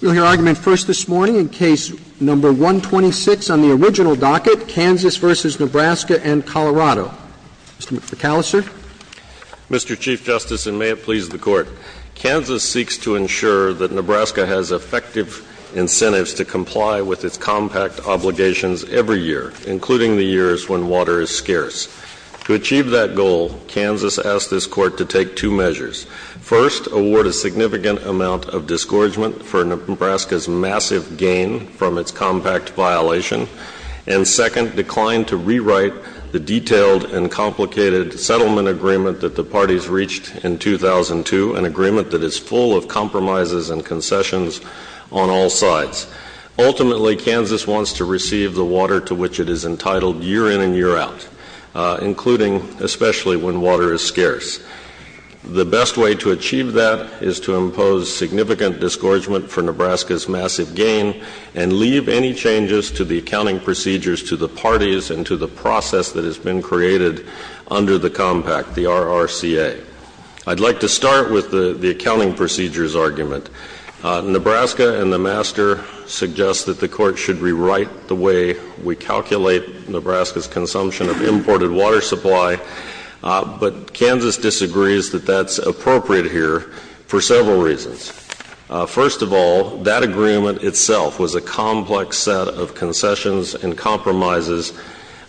We'll hear argument first this morning in case number 126 on the original docket, Kansas v. Nebraska and Colorado. Mr. McAllister. Mr. Chief Justice, and may it please the Court, Kansas seeks to ensure that Nebraska has effective incentives to comply with its compact obligations every year, including the years when water is scarce. To achieve that goal, Kansas asked this Court to take two measures. First, award a significant amount of disgorgement for Nebraska's massive gain from its compact violation. And second, decline to rewrite the detailed and complicated settlement agreement that the parties reached in 2002, an agreement that is full of compromises and concessions on all sides. Ultimately, Kansas wants to receive the water to which it is entitled year in and year out, including especially when water is scarce. The best way to achieve that is to impose significant disgorgement for Nebraska's massive gain and leave any changes to the accounting procedures to the parties and to the process that has been created under the compact, the RRCA. I'd like to start with the accounting procedures argument. Nebraska and the Master suggest that the Court should rewrite the way we calculate Nebraska's consumption of imported water supply, but Kansas disagrees that that's appropriate here for several reasons. First of all, that agreement itself was a complex set of concessions and compromises.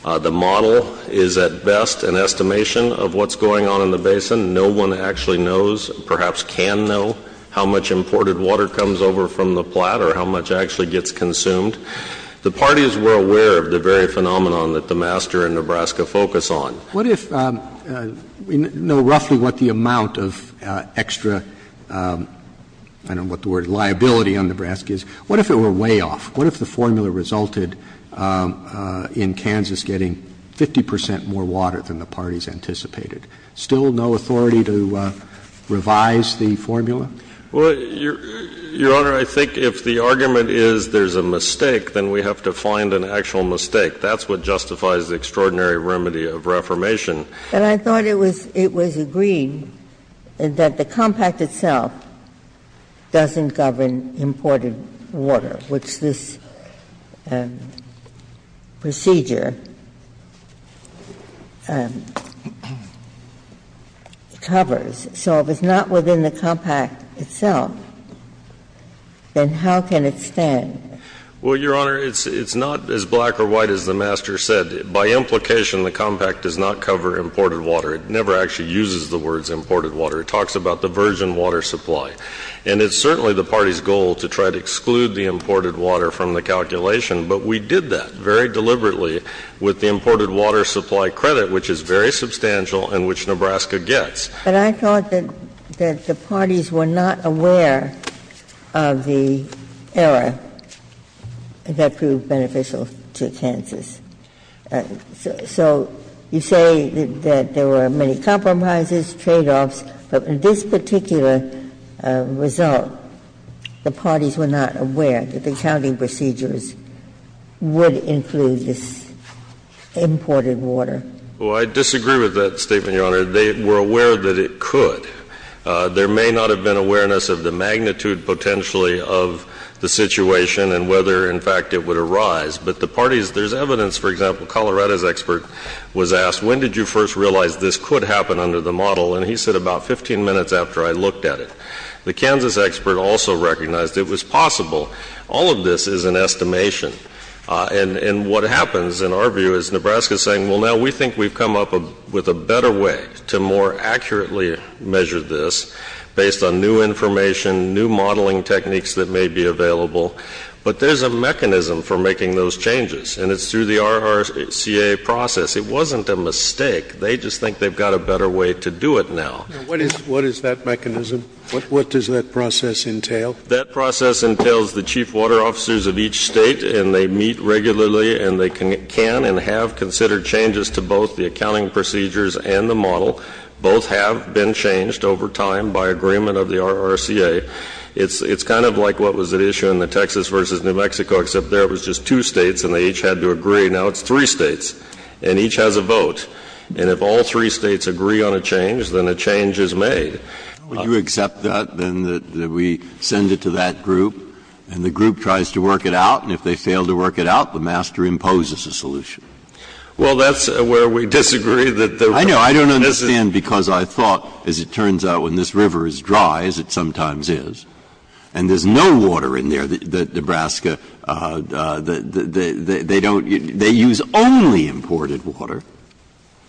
The model is at best an estimation of what's going on in the basin. No one actually knows, perhaps can know, how much imported water comes over from the plat or how much actually gets consumed. The parties were aware of the very phenomenon that the Master and Nebraska focus on. What if we know roughly what the amount of extra, I don't know what the word, liability on Nebraska is. What if it were way off? What if the formula resulted in Kansas getting 50 percent more water than the parties anticipated? Still no authority to revise the formula? Well, Your Honor, I think if the argument is there's a mistake, then we have to find an actual mistake. That's what justifies the extraordinary remedy of reformation. But I thought it was agreed that the compact itself doesn't govern imported water, which this procedure covers. So if it's not within the compact itself, then how can it stand? Well, Your Honor, it's not as black or white as the Master said. By implication, the compact does not cover imported water. It never actually uses the words imported water. It talks about the virgin water supply. And it's certainly the party's goal to try to exclude the imported water from the calculation. But we did that very deliberately with the imported water supply credit, which is very substantial and which Nebraska gets. But I thought that the parties were not aware of the error that proved beneficial to Kansas. So you say that there were many compromises, tradeoffs, but in this particular result, the parties were not aware that the counting procedures would include this imported water. Well, I disagree with that statement, Your Honor. They were aware that it could. There may not have been awareness of the magnitude potentially of the situation and whether, in fact, it would arise. But the parties, there's evidence, for example, Colorado's expert was asked, when did you first realize this could happen under the model? And he said about 15 minutes after I looked at it. The Kansas expert also recognized it was possible. All of this is an estimation. And what happens, in our view, is Nebraska is saying, well, now we think we've come up with a better way to more accurately measure this based on new information, new modeling techniques that may be available. But there's a mechanism for making those changes, and it's through the RRCA process. It wasn't a mistake. They just think they've got a better way to do it now. Now, what is that mechanism? What does that process entail? That process entails the chief water officers of each State, and they meet regularly, and they can and have considered changes to both the accounting procedures and the model. Both have been changed over time by agreement of the RRCA. It's kind of like what was at issue in the Texas v. New Mexico, except there it was just two States and they each had to agree. Now it's three States, and each has a vote. And if all three States agree on a change, then a change is made. Breyer. Would you accept that, then, that we send it to that group, and the group tries to work it out? And if they fail to work it out, the master imposes a solution? Well, that's where we disagree that the RRCA doesn't. I know. I don't understand, because I thought, as it turns out, when this river is dry, as it sometimes is, and there's no water in there, that Nebraska, they don't, they use only imported water,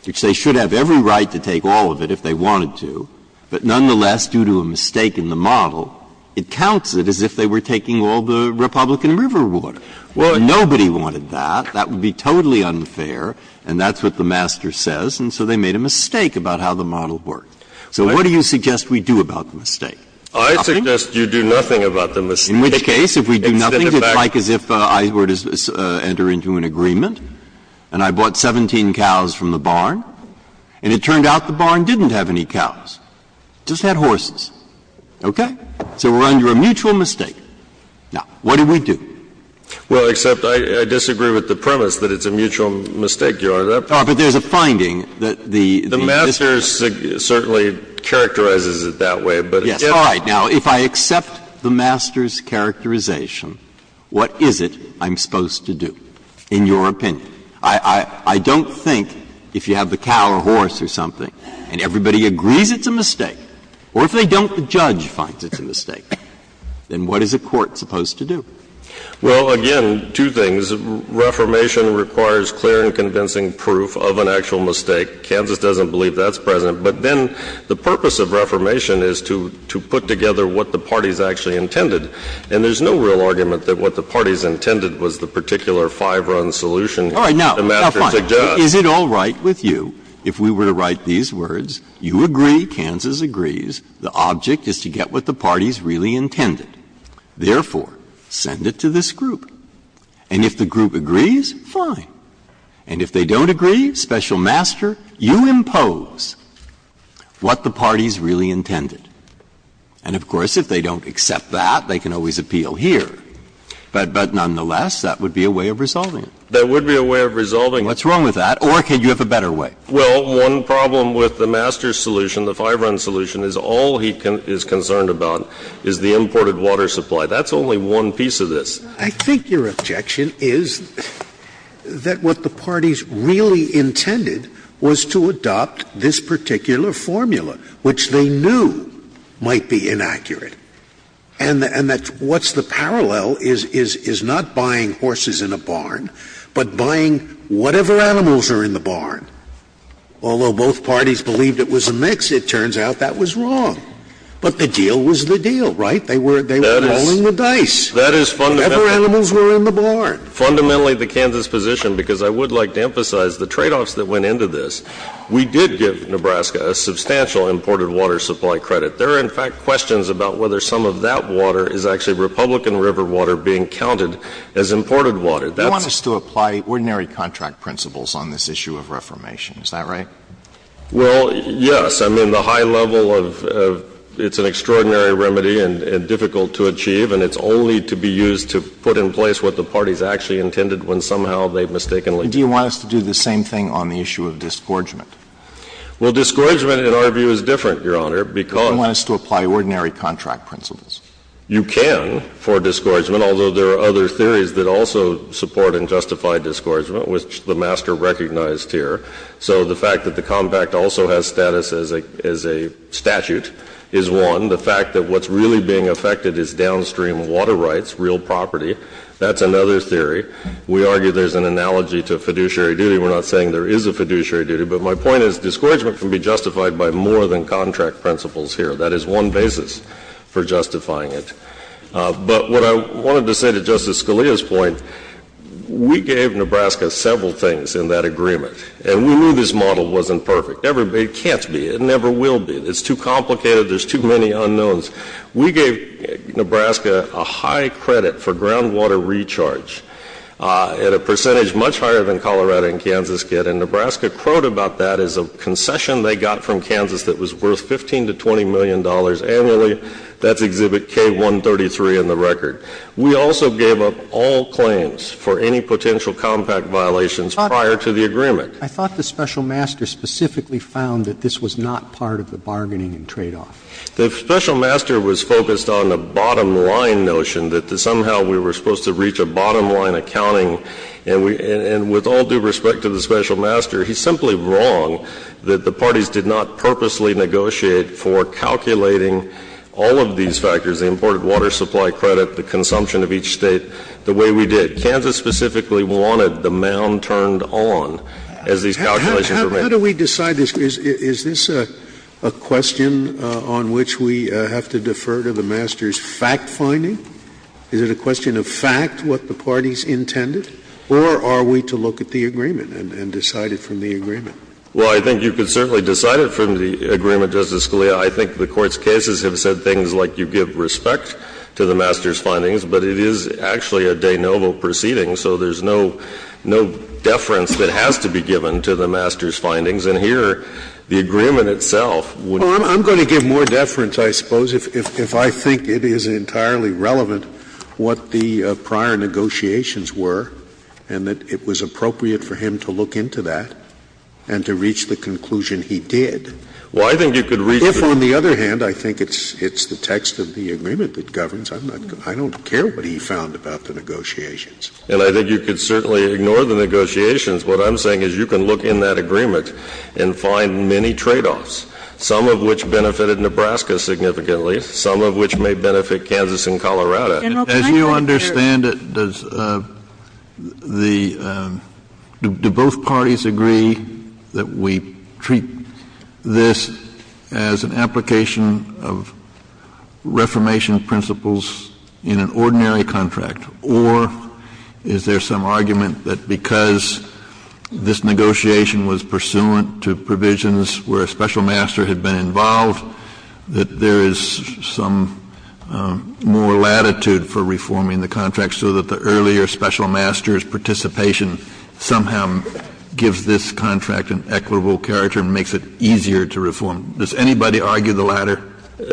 which they should have every right to take all of it if they wanted to. But nonetheless, due to a mistake in the model, it counts it as if they were taking all the Republican river water. Well, nobody wanted that. That would be totally unfair. And that's what the master says. And so they made a mistake about how the model worked. So what do you suggest we do about the mistake? Nothing? I suggest you do nothing about the mistake. In which case, if we do nothing, it's like as if I were to enter into an agreement and I bought 17 cows from the barn, and it turned out the barn didn't have any cows. It just had horses. Okay? So we're under a mutual mistake. Now, what do we do? Well, except I disagree with the premise that it's a mutual mistake, Your Honor. Oh, but there's a finding that the mistress certainly characterizes it that way. Yes. All right. Now, if I accept the master's characterization, what is it I'm supposed to do, in your opinion? I don't think if you have the cow or horse or something and everybody agrees it's a mistake, or if they don't, the judge finds it's a mistake, then what is a court supposed to do? Well, again, two things. Reformation requires clear and convincing proof of an actual mistake. Kansas doesn't believe that's present. But then the purpose of reformation is to put together what the parties actually intended. And there's no real argument that what the parties intended was the particular five-run solution. All right. Now, is it all right with you if we were to write these words, you agree, Kansas, agrees, the object is to get what the parties really intended, therefore, send it to this group? And if the group agrees, fine. And if they don't agree, special master, you impose what the parties really intended. And, of course, if they don't accept that, they can always appeal here. But nonetheless, that would be a way of resolving it. That would be a way of resolving it. What's wrong with that? Or could you have a better way? Well, one problem with the master solution, the five-run solution, is all he is concerned about is the imported water supply. That's only one piece of this. I think your objection is that what the parties really intended was to adopt this particular formula, which they knew might be inaccurate. And that's what's the parallel is not buying horses in a barn, but buying whatever animals are in the barn. Although both parties believed it was a mix, it turns out that was wrong. But the deal was the deal, right? They were rolling the dice. That is fundamentally the Kansas position, because I would like to emphasize the tradeoffs that went into this. We did give Nebraska a substantial imported water supply credit. There are, in fact, questions about whether some of that water is actually Republican River water being counted as imported water. You want us to apply ordinary contract principles on this issue of reformation. Is that right? Well, yes. I mean, the high level of — it's an extraordinary remedy and difficult to achieve. And it's only to be used to put in place what the parties actually intended when somehow they've mistakenly done it. Do you want us to do the same thing on the issue of disgorgement? Well, disgorgement, in our view, is different, Your Honor, because — You want us to apply ordinary contract principles. You can for disgorgement, although there are other theories that also support and justify disgorgement, which the Master recognized here. So the fact that the compact also has status as a statute is one. The fact that what's really being affected is downstream water rights, real property, that's another theory. We argue there's an analogy to fiduciary duty. We're not saying there is a fiduciary duty. But my point is disgorgement can be justified by more than contract principles here. That is one basis for justifying it. But what I wanted to say to Justice Scalia's point, we gave Nebraska several things in that agreement. And we knew this model wasn't perfect. It can't be. It never will be. It's too complicated. There's too many unknowns. We gave Nebraska a high credit for groundwater recharge at a percentage much higher than Colorado and Kansas get. And Nebraska quoted about that as a concession they got from Kansas that was worth 15 to $20 million annually. That's Exhibit K133 in the record. We also gave up all claims for any potential compact violations prior to the agreement. Roberts. I thought the Special Master specifically found that this was not part of the bargaining and tradeoff. The Special Master was focused on the bottom line notion that somehow we were supposed to reach a bottom line accounting. But the Federal government did not purposely negotiate for calculating all of these factors, the imported water supply credit, the consumption of each State the way we did. Kansas specifically wanted the mound turned on as these calculations were made. Scalia. How do we decide this? Is this a question on which we have to defer to the master's fact-finding? Is it a question of fact what the parties intended? Or are we to look at the agreement and decide it from the agreement? Well, I think you can certainly decide it from the agreement, Justice Scalia. I think the Court's cases have said things like you give respect to the master's findings. But it is actually a de novo proceeding, so there's no deference that has to be given to the master's findings. And here, the agreement itself would be. Well, I'm going to give more deference, I suppose, if I think it is entirely relevant what the prior negotiations were and that it was appropriate for him to look into that. And to reach the conclusion he did. Well, I think you could reach the. If, on the other hand, I think it's the text of the agreement that governs, I don't care what he found about the negotiations. And I think you could certainly ignore the negotiations. What I'm saying is you can look in that agreement and find many tradeoffs, some of which benefited Nebraska significantly, some of which may benefit Kansas and Colorado. Kennedy, as you understand it, does the — do both parties agree that we treat this as an application of Reformation principles in an ordinary contract, or is there some argument that because this negotiation was pursuant to provisions where a special master's participation somehow gives this contract an equitable character and makes it easier to reform? Does anybody argue the latter?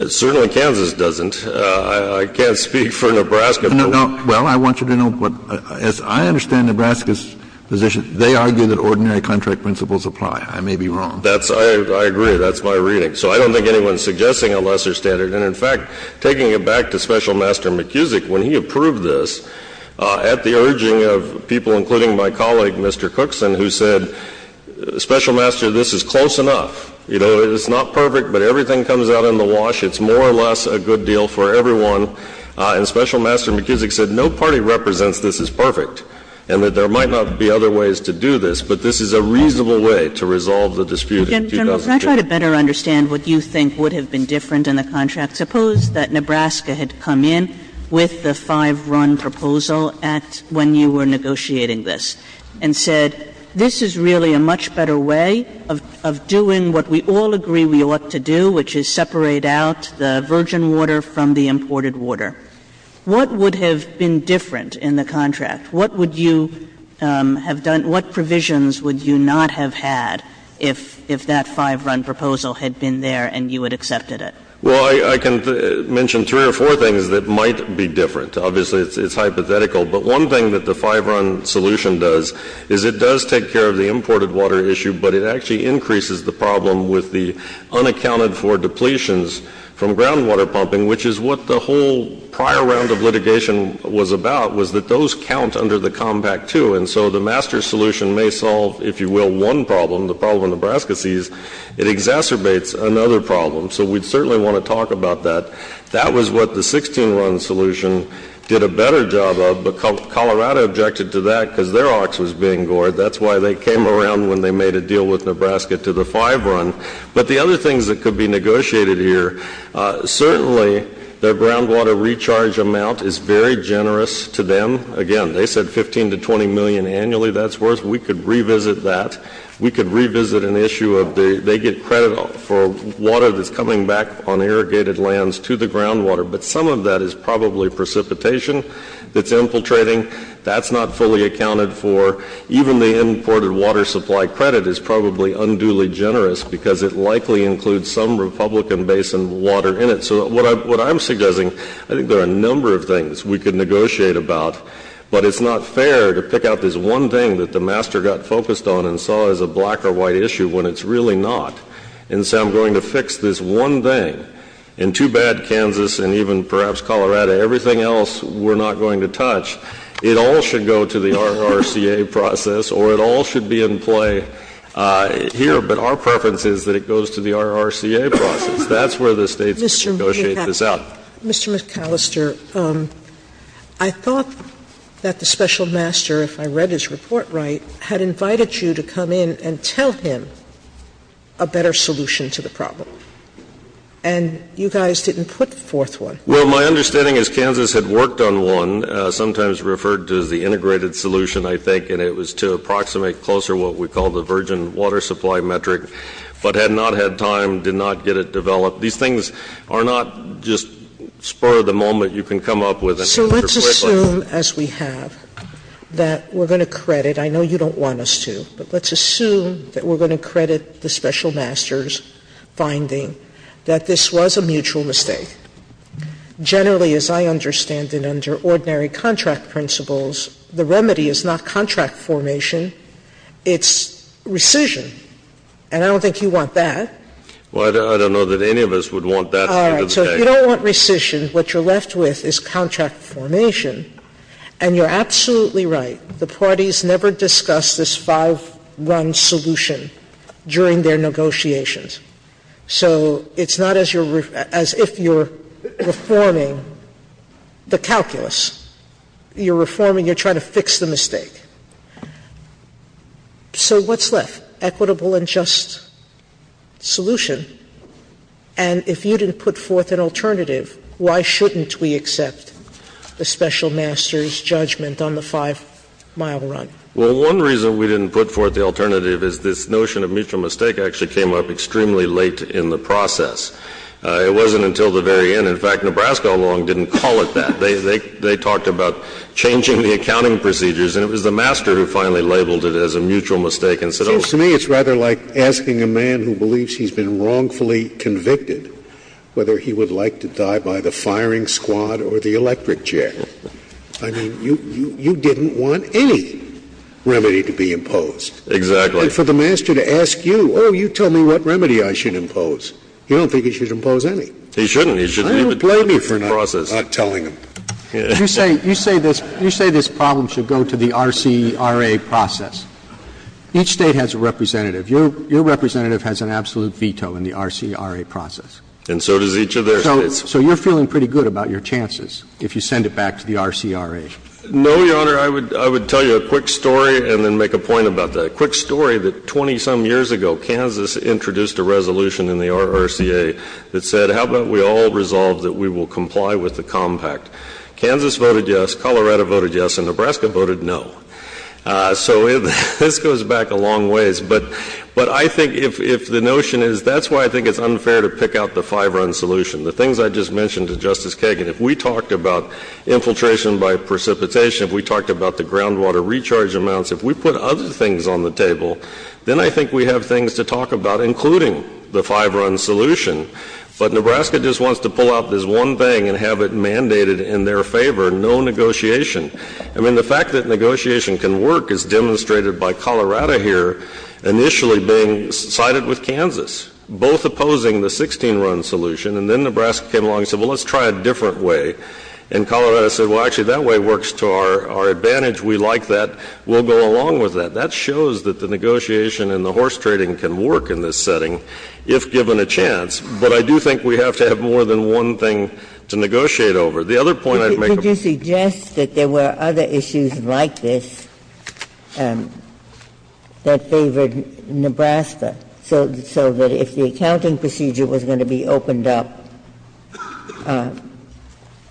Certainly Kansas doesn't. I can't speak for Nebraska. Well, I want you to know, as I understand Nebraska's position, they argue that ordinary contract principles apply. I may be wrong. That's — I agree. That's my reading. So I don't think anyone is suggesting a lesser standard. And in fact, taking it back to Special Master McKusick, when he approved this, at the urging of people, including my colleague Mr. Cookson, who said, Special Master, this is close enough. You know, it's not perfect, but everything comes out in the wash. It's more or less a good deal for everyone. And Special Master McKusick said no party represents this as perfect and that there might not be other ways to do this, but this is a reasonable way to resolve the dispute in 2002. Sotomayor, can I try to better understand what you think would have been different in the contract? Suppose that Nebraska had come in with the Five-Run Proposal Act when you were negotiating this and said, this is really a much better way of doing what we all agree we ought to do, which is separate out the virgin water from the imported water. What would have been different in the contract? What would you have done — what provisions would you not have had if that Five-Run Proposal had been there and you had accepted it? Well, I can mention three or four things that might be different. Obviously, it's hypothetical, but one thing that the Five-Run solution does is it does take care of the imported water issue, but it actually increases the problem with the unaccounted-for depletions from groundwater pumping, which is what the whole prior round of litigation was about, was that those count under the Compact II. And so the master solution may solve, if you will, one problem. The problem Nebraska sees, it exacerbates another problem. So we'd certainly want to talk about that. That was what the 16-Run solution did a better job of, but Colorado objected to that because their ox was being gored. That's why they came around when they made a deal with Nebraska to the Five-Run. But the other things that could be negotiated here, certainly their groundwater recharge amount is very generous to them. Again, they said $15 to $20 million annually that's worth. We could revisit that. We could revisit an issue of they get credit for water that's coming back on irrigated lands to the groundwater, but some of that is probably precipitation that's infiltrating. That's not fully accounted for. Even the imported water supply credit is probably unduly generous because it likely includes some Republican basin water in it. So what I'm suggesting, I think there are a number of things we could negotiate about, but it's not fair to pick out this one thing that the master got focused on and saw as a black or white issue when it's really not. And so I'm going to fix this one thing. And too bad Kansas and even perhaps Colorado, everything else we're not going to touch. It all should go to the RRCA process or it all should be in play here. But our preference is that it goes to the RRCA process. That's where the States can negotiate this out. Sotomayor, Mr. McAllister, I thought that the special master, if I read his report right, had invited you to come in and tell him a better solution to the problem. And you guys didn't put the fourth one. Well, my understanding is Kansas had worked on one, sometimes referred to as the integrated solution, I think, and it was to approximate closer what we call the virgin water supply metric, but had not had time, did not get it developed. These things are not just spur of the moment you can come up with. So let's assume, as we have, that we're going to credit. I know you don't want us to, but let's assume that we're going to credit the special master's finding that this was a mutual mistake. Generally, as I understand it, under ordinary contract principles, the remedy is not contract formation. It's rescission. And I don't think you want that. Well, I don't know that any of us would want that. All right. So if you don't want rescission, what you're left with is contract formation. And you're absolutely right. The parties never discuss this 5-1 solution during their negotiations. So it's not as if you're reforming the calculus. You're reforming, you're trying to fix the mistake. So what's left? Equitable and just solution. And if you didn't put forth an alternative, why shouldn't we accept the special master's judgment on the 5-mile run? Well, one reason we didn't put forth the alternative is this notion of mutual mistake actually came up extremely late in the process. It wasn't until the very end. In fact, Nebraska alone didn't call it that. They talked about changing the accounting procedures, and it was the master who finally labeled it as a mutual mistake and said, oh, it's a mutual mistake. It seems to me it's rather like asking a man who believes he's been wrongfully convicted whether he would like to die by the firing squad or the electric chair. I mean, you didn't want any remedy to be imposed. Exactly. And for the master to ask you, oh, you tell me what remedy I should impose. You don't think he should impose any. He shouldn't. I don't blame you for not telling him. You say this problem should go to the RCRA process. Each State has a representative. Your representative has an absolute veto in the RCRA process. And so does each of their States. So you're feeling pretty good about your chances if you send it back to the RCRA. No, Your Honor. I would tell you a quick story and then make a point about that. A quick story that 20-some years ago Kansas introduced a resolution in the RRCA that said how about we all resolve that we will comply with the compact. Kansas voted yes, Colorado voted yes, and Nebraska voted no. So this goes back a long ways. But I think if the notion is that's why I think it's unfair to pick out the five-run solution. The things I just mentioned to Justice Kagan, if we talked about infiltration by precipitation, if we talked about the groundwater recharge amounts, if we put other things on the table, then I think we have things to talk about including the five-run solution. But Nebraska just wants to pull out this one thing and have it mandated in their favor, no negotiation. I mean, the fact that negotiation can work is demonstrated by Colorado here initially being sided with Kansas, both opposing the 16-run solution. And then Nebraska came along and said, well, let's try a different way. And Colorado said, well, actually, that way works to our advantage. We like that. We'll go along with that. That shows that the negotiation and the horse trading can work in this setting if given a chance. But I do think we have to have more than one thing to negotiate over. The other point I'd make about this. There were other issues like this that favored Nebraska. So that if the accounting procedure was going to be opened up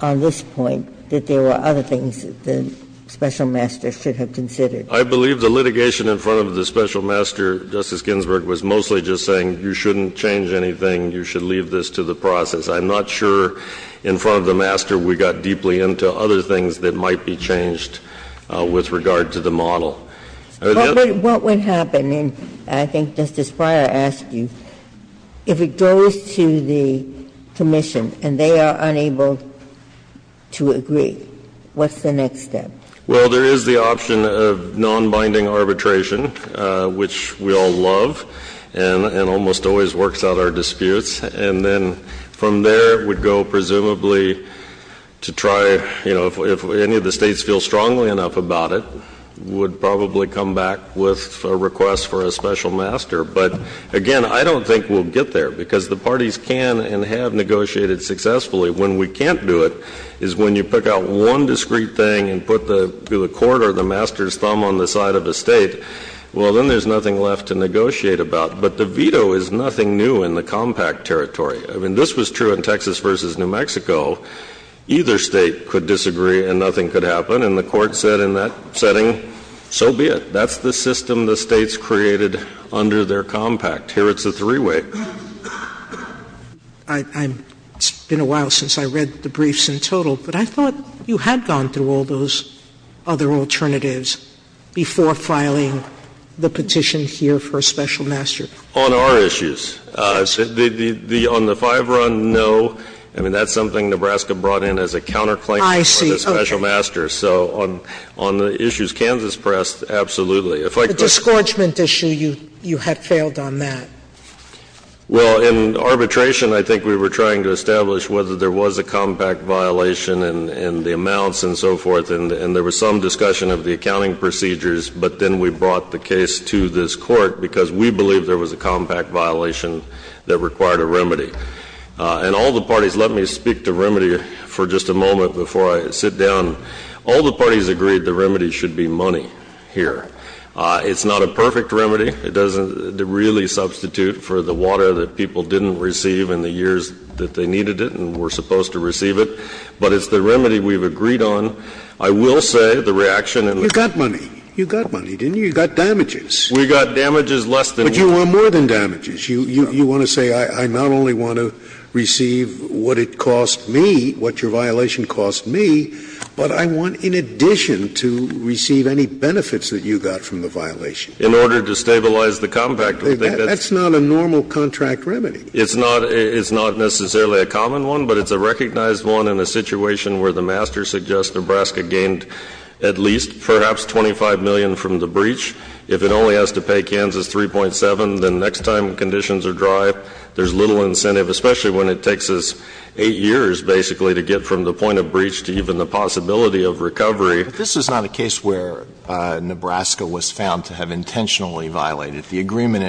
on this point, that there were other things that the special master should have considered. I believe the litigation in front of the special master, Justice Ginsburg, was mostly just saying you shouldn't change anything, you should leave this to the process. I'm not sure in front of the master we got deeply into other things that might be changed with regard to the model. Ginsburg. What would happen? And I think Justice Breyer asked you. If it goes to the commission and they are unable to agree, what's the next step? Well, there is the option of nonbinding arbitration, which we all love and almost always works out our disputes. And then from there it would go presumably to try, you know, if any of the States feel strongly enough about it, would probably come back with a request for a special master. But, again, I don't think we'll get there because the parties can and have negotiated successfully. When we can't do it is when you pick out one discrete thing and put the court or the master's thumb on the side of the State. Well, then there's nothing left to negotiate about. But the veto is nothing new in the compact territory. I mean, this was true in Texas v. New Mexico. Either State could disagree and nothing could happen. And the Court said in that setting, so be it. That's the system the States created under their compact. Here it's a three-way. It's been a while since I read the briefs in total, but I thought you had gone through all those other alternatives before filing the petition here for a special master. On our issues. On the five-run, no. I mean, that's something Nebraska brought in as a counterclaim for the special master. I see. Okay. So on the issues Kansas pressed, absolutely. The disgorgement issue, you had failed on that. Well, in arbitration, I think we were trying to establish whether there was a compact violation and the amounts and so forth, and there was some discussion of the accounting procedures. But then we brought the case to this Court because we believed there was a compact violation that required a remedy. And all the parties, let me speak to remedy for just a moment before I sit down. All the parties agreed the remedy should be money here. It's not a perfect remedy. It doesn't really substitute for the water that people didn't receive in the years that they needed it and were supposed to receive it. But it's the remedy we've agreed on. I will say the reaction in the ---- You got money. You got money, didn't you? You got damages. We got damages less than ---- But you want more than damages. You want to say I not only want to receive what it cost me, what your violation cost me, but I want in addition to receive any benefits that you got from the violation. In order to stabilize the compact, I think that's ---- That's not a normal contract remedy. It's not necessarily a common one, but it's a recognized one in a situation where the master suggests Nebraska gained at least perhaps 25 million from the breach. If it only has to pay Kansas 3.7, then next time conditions are dry, there's little incentive, especially when it takes us 8 years basically to get from the point of breach to even the possibility of recovery. But this is not a case where Nebraska was found to have intentionally violated the agreement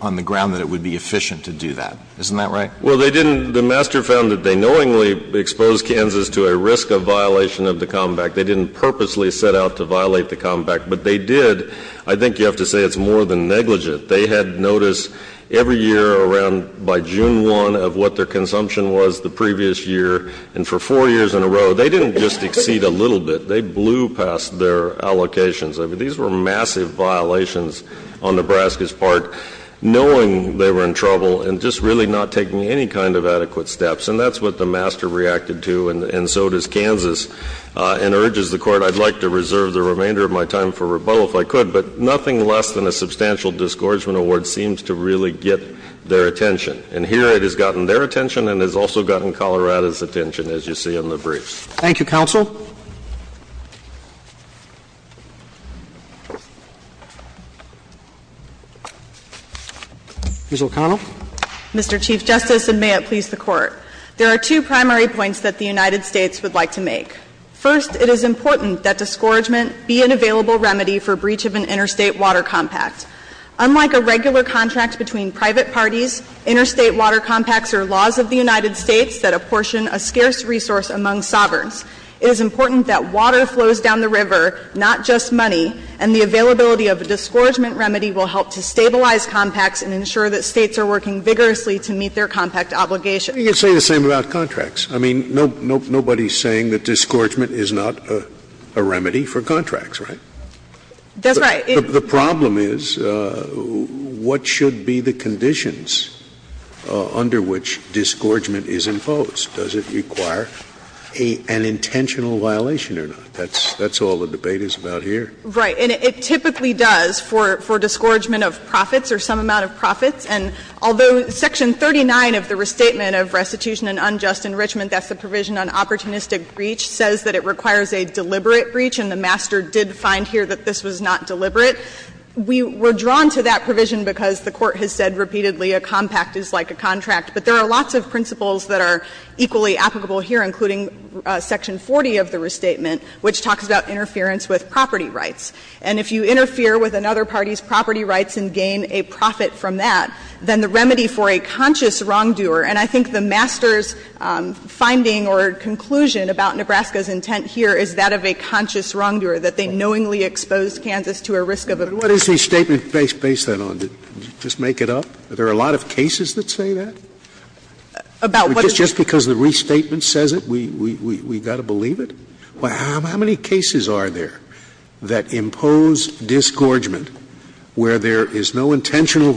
on the ground that it would be efficient to do that. Isn't that right? Well, they didn't. The master found that they knowingly exposed Kansas to a risk of violation of the compact. They didn't purposely set out to violate the compact, but they did. I think you have to say it's more than negligent. They had notice every year around by June 1 of what their consumption was the previous year, and for 4 years in a row. They didn't just exceed a little bit. They blew past their allocations. I mean, these were massive violations on Nebraska's part, knowing they were in trouble and just really not taking any kind of adequate steps. And that's what the master reacted to, and so does Kansas, and urges the Court, I'd like to reserve the remainder of my time for rebuttal if I could. But nothing less than a substantial disgorgement award seems to really get their attention. And here it has gotten their attention and has also gotten Colorado's attention, as you see in the briefs. Thank you, counsel. Ms. O'Connell. Mr. Chief Justice, and may it please the Court. There are two primary points that the United States would like to make. First, it is important that disgorgement be an available remedy for breach of an interstate water compact. Unlike a regular contract between private parties, interstate water compacts are laws of the United States that apportion a scarce resource among sovereigns. It is important that water flows down the river, not just money, and the availability of a disgorgement remedy will help to stabilize compacts and ensure that States are working vigorously to meet their compact obligations. You can say the same about contracts. I mean, nobody is saying that disgorgement is not a remedy for contracts, right? That's right. The problem is, what should be the conditions under which disgorgement is imposed? Does it require an intentional violation or not? That's all the debate is about here. Right. And it typically does for disgorgement of profits or some amount of profits. And although Section 39 of the Restatement of Restitution and Unjust Enrichment, that's the provision on opportunistic breach, says that it requires a deliberate breach, and the master did find here that this was not deliberate. We were drawn to that provision because the Court has said repeatedly a compact is like a contract, but there are lots of principles that are equally applicable here, including Section 40 of the Restatement, which talks about interference with property rights. And if you interfere with another party's property rights and gain a profit from that, then the remedy for a conscious wrongdoer, and I think the master's finding or conclusion about Nebraska's intent here is that of a conscious wrongdoer, that they knowingly exposed Kansas to a risk of a breach. But what is the statement based that on? Did you just make it up? Are there a lot of cases that say that? About what? Just because the restatement says it, we've got to believe it? How many cases are there that impose disgorgement where there is no intentional Do you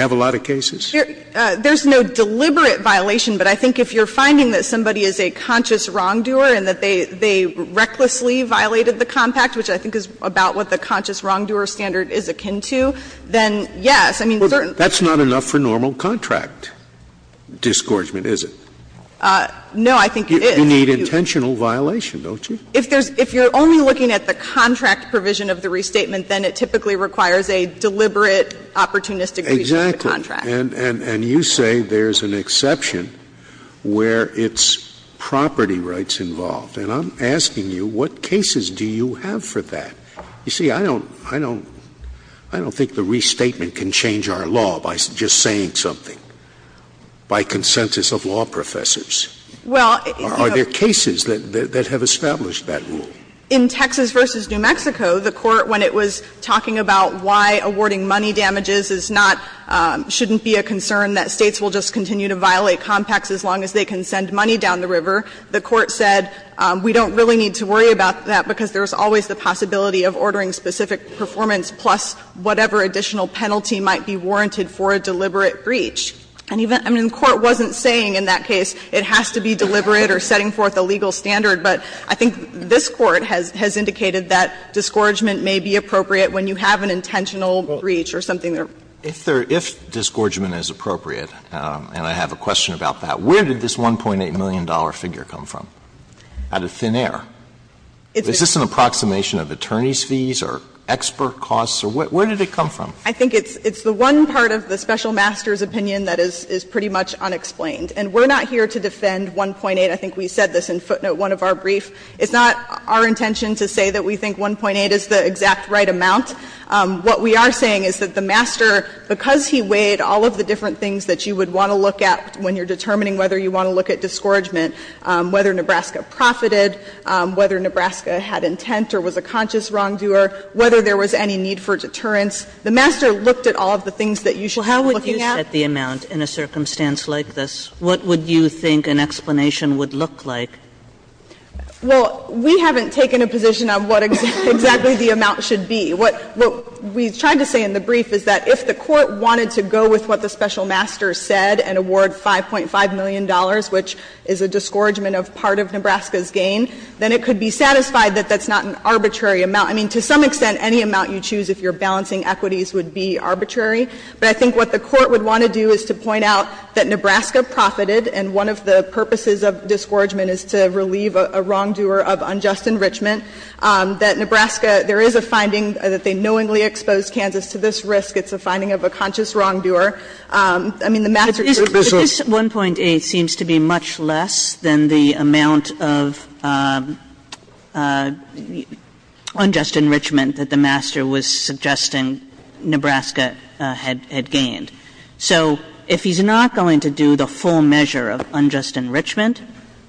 have a lot of cases? There's no deliberate violation. But I think if you're finding that somebody is a conscious wrongdoer and that they recklessly violated the compact, which I think is about what the conscious wrongdoer standard is akin to, then, yes, I mean, certain. That's not enough for normal contract disgorgement, is it? No, I think it is. You need intentional violation, don't you? If you're only looking at the contract provision of the restatement, then it typically requires a deliberate opportunistic breach of the contract. Exactly. And you say there's an exception where it's property rights involved. And I'm asking you, what cases do you have for that? You see, I don't think the restatement can change our law by just saying something, by consensus of law professors. Are there cases that have established that rule? In Texas v. New Mexico, the Court, when it was talking about why awarding money damages is not, shouldn't be a concern that States will just continue to violate compacts as long as they can send money down the river, the Court said we don't really need to worry about that because there's always the possibility of ordering specific performance plus whatever additional penalty might be warranted for a deliberate breach. And even the Court wasn't saying in that case it has to be deliberate or setting forth a legal standard, but I think this Court has indicated that disgorgement may be appropriate when you have an intentional breach or something there. If there — if disgorgement is appropriate, and I have a question about that, where did this $1.8 million figure come from out of thin air? Is this an approximation of attorney's fees or expert costs or what? Where did it come from? I think it's the one part of the special master's opinion that is pretty much unexplained. And we're not here to defend $1.8. I think we said this in footnote 1 of our brief. It's not our intention to say that we think $1.8 is the exact right amount. What we are saying is that the master, because he weighed all of the different things that you would want to look at when you're determining whether you want to look at disgorgement, whether Nebraska profited, whether Nebraska had intent or was a conscious wrongdoer, whether there was any need for deterrence. The master looked at all of the things that you should be looking at. Kagan Well, how would you set the amount in a circumstance like this? What would you think an explanation would look like? O'Connell Well, we haven't taken a position on what exactly the amount should be. What we tried to say in the brief is that if the court wanted to go with what the special master said and award $5.5 million, which is a disgorgement of part of Nebraska's gain, then it could be satisfied that that's not an arbitrary amount. I mean, to some extent, any amount you choose if you're balancing equities would be arbitrary. But I think what the court would want to do is to point out that Nebraska profited, and one of the purposes of disgorgement is to relieve a wrongdoer of unjust enrichment, that Nebraska, there is a finding that they knowingly exposed Kansas to this risk. It's a finding of a conscious wrongdoer. I mean, the master took business. Kagan This 1.8 seems to be much less than the amount of unjust enrichment that the master was suggesting Nebraska had gained. So if he's not going to do the full measure of unjust enrichment,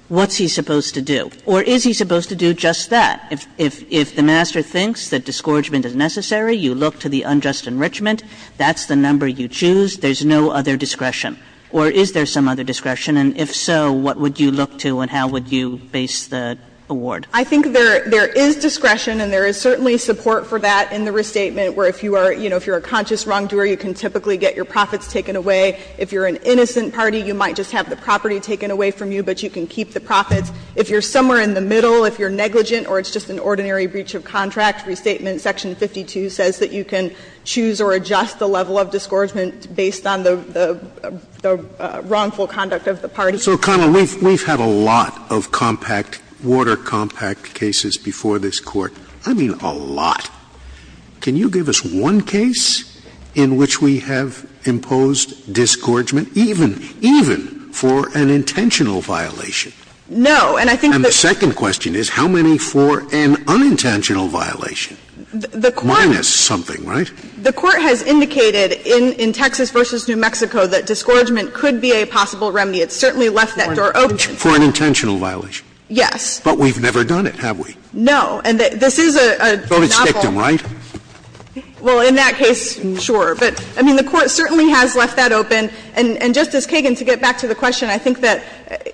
what's he supposed to do? Or is he supposed to do just that? If the master thinks that disgorgement is necessary, you look to the unjust enrichment. That's the number you choose. There's no other discretion. Or is there some other discretion? And if so, what would you look to and how would you base the award? I think there is discretion, and there is certainly support for that in the restatement, where if you are, you know, if you're a conscious wrongdoer, you can typically get your profits taken away. If you're an innocent party, you might just have the property taken away from you, but you can keep the profits. If you're somewhere in the middle, if you're negligent or it's just an ordinary breach of contract, restatement section 52 says that you can choose or adjust the wrongful conduct of the party. Scalia. So, Connell, we've had a lot of compact, water-compact cases before this Court. I mean, a lot. Can you give us one case in which we have imposed disgorgement, even, even for an intentional violation? No. And I think that's the second question is how many for an unintentional violation? The Court. Minus something, right? The Court has indicated in Texas v. New Mexico that disgorgement could be a possible remedy. It's certainly left that door open. For an intentional violation. Yes. But we've never done it, have we? No. And this is a novel. Voted stick them, right? Well, in that case, sure. But, I mean, the Court certainly has left that open. And, Justice Kagan, to get back to the question, I think that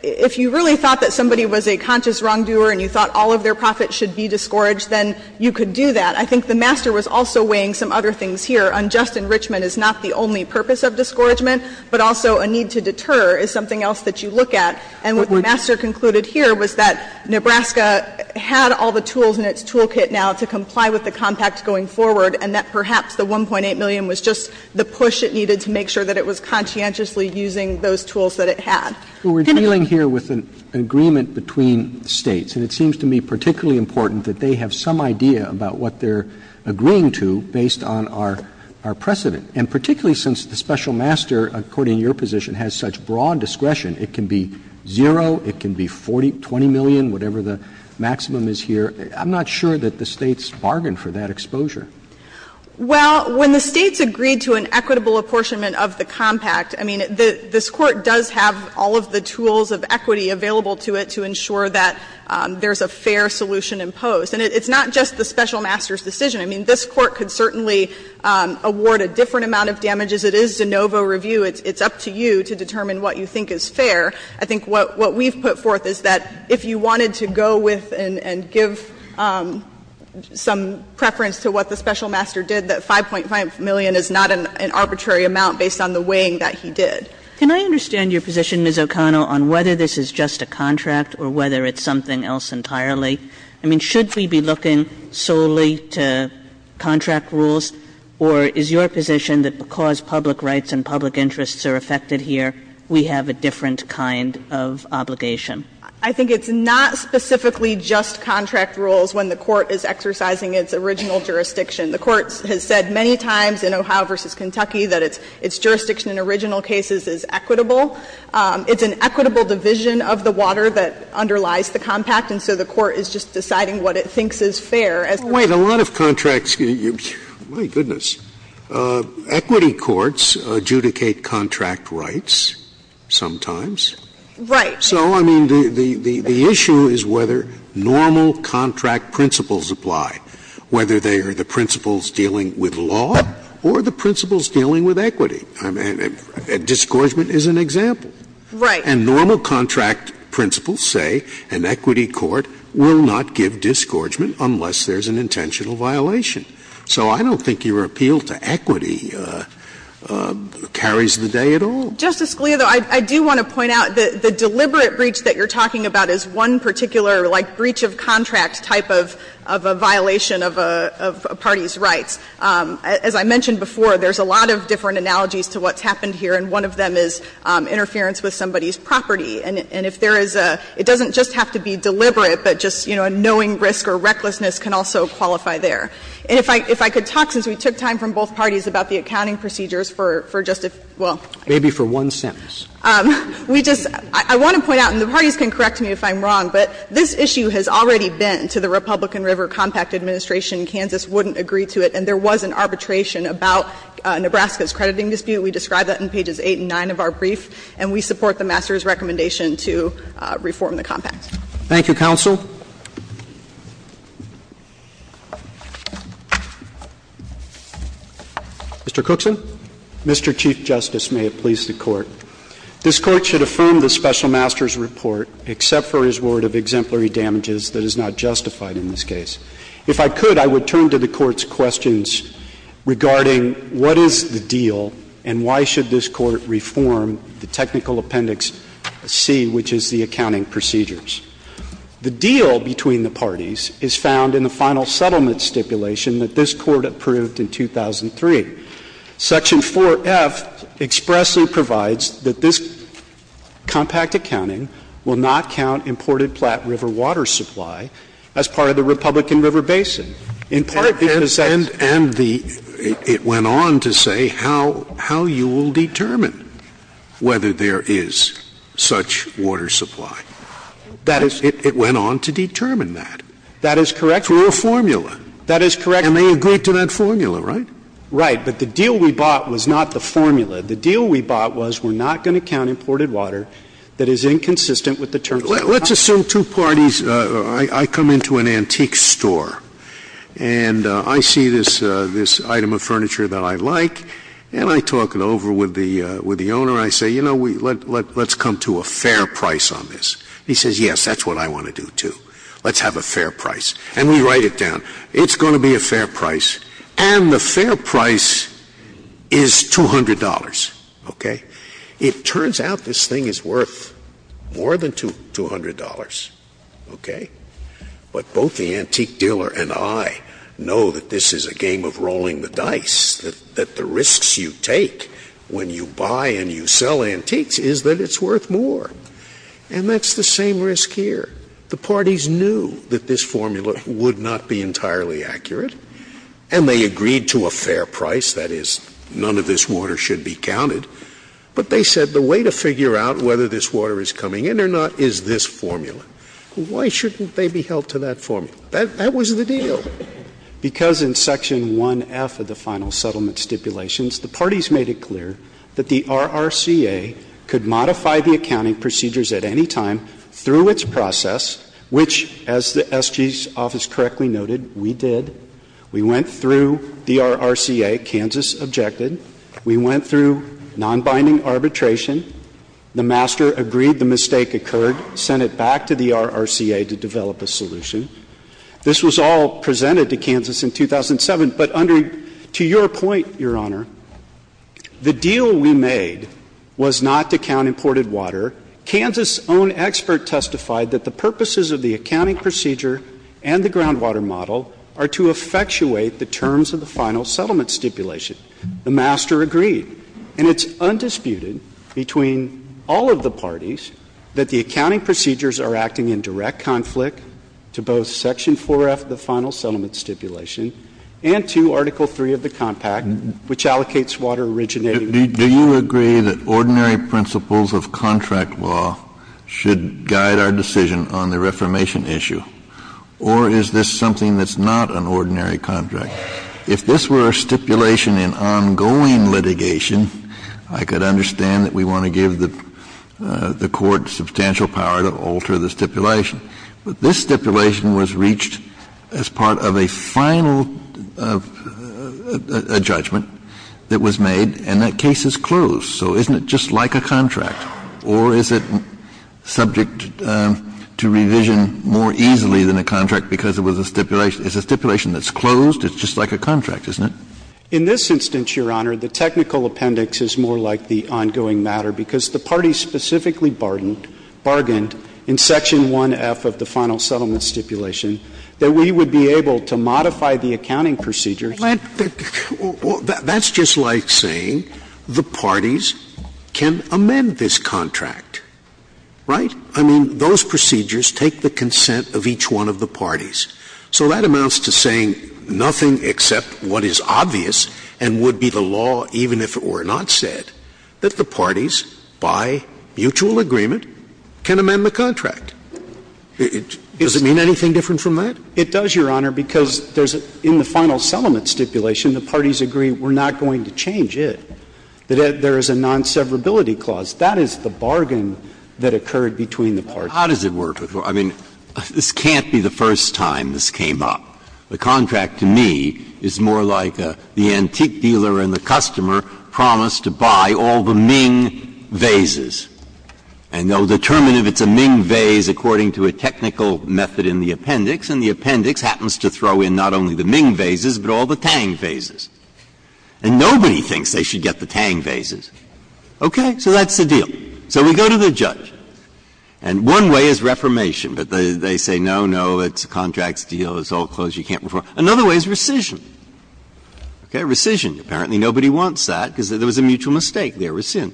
if you really thought that somebody was a conscious wrongdoer and you thought all of their profits should be disgorged, then you could do that. I think the Master was also weighing some other things here. Unjust enrichment is not the only purpose of disgorgement, but also a need to deter is something else that you look at. And what the Master concluded here was that Nebraska had all the tools in its toolkit now to comply with the compact going forward, and that perhaps the $1.8 million was just the push it needed to make sure that it was conscientiously using those tools that it had. We're dealing here with an agreement between States. And it seems to me particularly important that they have some idea about what they're agreeing to based on our precedent. And particularly since the Special Master, according to your position, has such broad discretion, it can be zero, it can be $20 million, whatever the maximum is here. I'm not sure that the States bargained for that exposure. Well, when the States agreed to an equitable apportionment of the compact, I mean, this Court does have all of the tools of equity available to it to ensure that there's a fair solution imposed. And it's not just the Special Master's decision. I mean, this Court could certainly award a different amount of damages. It is de novo review. It's up to you to determine what you think is fair. I think what we've put forth is that if you wanted to go with and give some preference to what the Special Master did, that $5.5 million is not an arbitrary amount based on the weighing that he did. Kagan, can I understand your position, Ms. O'Connell, on whether this is just a contract or whether it's something else entirely? I mean, should we be looking solely to contract rules, or is your position that because public rights and public interests are affected here, we have a different kind of obligation? I think it's not specifically just contract rules when the Court is exercising its original jurisdiction. The Court has said many times in Ohio v. Kentucky that its jurisdiction in original cases is equitable. It's an equitable division of the water that underlies the compact, and so the Court is just deciding what it thinks is fair. Scalia, a lot of contracts you, my goodness, equity courts adjudicate contract rights sometimes. Right. So, I mean, the issue is whether normal contract principles apply, whether they are the principles dealing with law or the principles dealing with equity. I mean, disgorgement is an example. Right. And normal contract principles say an equity court will not give disgorgement unless there's an intentional violation. So I don't think your appeal to equity carries the day at all. Justice Scalia, though, I do want to point out that the deliberate breach that you're talking about is a deliberate breach of the parties' rights. As I mentioned before, there's a lot of different analogies to what's happened here, and one of them is interference with somebody's property. And if there is a — it doesn't just have to be deliberate, but just, you know, a knowing risk or recklessness can also qualify there. And if I could talk, since we took time from both parties, about the accounting procedures for Justice — well. Maybe for one sentence. We just — I want to point out, and the parties can correct me if I'm wrong, but this issue has already been to the Republican River Compact Administration. Kansas wouldn't agree to it. And there was an arbitration about Nebraska's crediting dispute. We describe that in pages 8 and 9 of our brief, and we support the master's recommendation to reform the compact. Thank you, counsel. Mr. Cookson. Mr. Chief Justice, may it please the Court. This Court should affirm the special master's report except for his word of exemplary damages that is not justified in this case. If I could, I would turn to the Court's questions regarding what is the deal and why should this Court reform the technical appendix C, which is the accounting procedures. The deal between the parties is found in the final settlement stipulation that this Court approved in 2003. Section 4F expressly provides that this compact accounting will not count imported Platte River water supply as part of the Republican River Basin, in part because that's — And the — it went on to say how you will determine whether there is such water supply. That is — It went on to determine that. That is correct. Through a formula. That is correct. And they agreed to that formula, right? Right. But the deal we bought was not the formula. The deal we bought was we're not going to count imported water that is inconsistent with the terms of the contract. Let's assume two parties — I come into an antique store, and I see this item of furniture that I like, and I talk it over with the owner. I say, you know, let's come to a fair price on this. He says, yes, that's what I want to do, too. Let's have a fair price. And we write it down. It's going to be a fair price. And the fair price is $200, okay? It turns out this thing is worth more than $200, okay? But both the antique dealer and I know that this is a game of rolling the dice, that the risks you take when you buy and you sell antiques is that it's worth more. And that's the same risk here. The parties knew that this formula would not be entirely accurate, and they agreed to a fair price, that is, none of this water should be counted. But they said the way to figure out whether this water is coming in or not is this formula. Why shouldn't they be held to that formula? That was the deal. Because in Section 1F of the Final Settlement Stipulations, the parties made it clear that the RRCA could modify the accounting procedures at any time through its process, which, as the SG's office correctly noted, we did. We went through the RRCA, Kansas objected. We went through non-binding arbitration. The master agreed the mistake occurred, sent it back to the RRCA to develop a solution. This was all presented to Kansas in 2007. But under to your point, Your Honor, the deal we made was not to count imported water. Kansas' own expert testified that the purposes of the accounting procedure and the groundwater model are to effectuate the terms of the Final Settlement Stipulation. The master agreed, and it's undisputed between all of the parties that the accounting procedures are acting in direct conflict to both Section 4F of the Final Settlement Stipulation and to Article 3 of the Compact, which allocates water originating from the RRCA. Kennedy, do you agree that ordinary principles of contract law should guide our decision on the reformation issue? Or is this something that's not an ordinary contract? If this were a stipulation in ongoing litigation, I could understand that we want to give the Court substantial power to alter the stipulation. But this stipulation was reached as part of a final judgment that was made, and that case is closed. So isn't it just like a contract? Or is it subject to revision more easily than a contract because it was a stipulation that's closed? It's just like a contract, isn't it? In this instance, Your Honor, the technical appendix is more like the ongoing matter because the parties specifically bargained in Section 1F of the Final Settlement Stipulation that we would be able to modify the accounting procedures. That's just like saying the parties can amend this contract, right? I mean, those procedures take the consent of each one of the parties. So that amounts to saying nothing except what is obvious and would be the law even if it were a contract. So the parties, by mutual agreement, can amend the contract. Does it mean anything different from that? It does, Your Honor, because there's, in the Final Settlement Stipulation, the parties agree we're not going to change it, that there is a non-severability clause. That is the bargain that occurred between the parties. How does it work? I mean, this can't be the first time this came up. The contract, to me, is more like the antique dealer and the customer promised to buy all the Ming vases, and they'll determine if it's a Ming vase according to a technical method in the appendix, and the appendix happens to throw in not only the Ming vases, but all the Tang vases, and nobody thinks they should get the Tang vases. Okay? So that's the deal. So we go to the judge, and one way is reformation, but they say, no, no, it's a contract deal, it's all closed, you can't reform. Another way is rescission. Okay? So there was a mutual mistake, there was sin.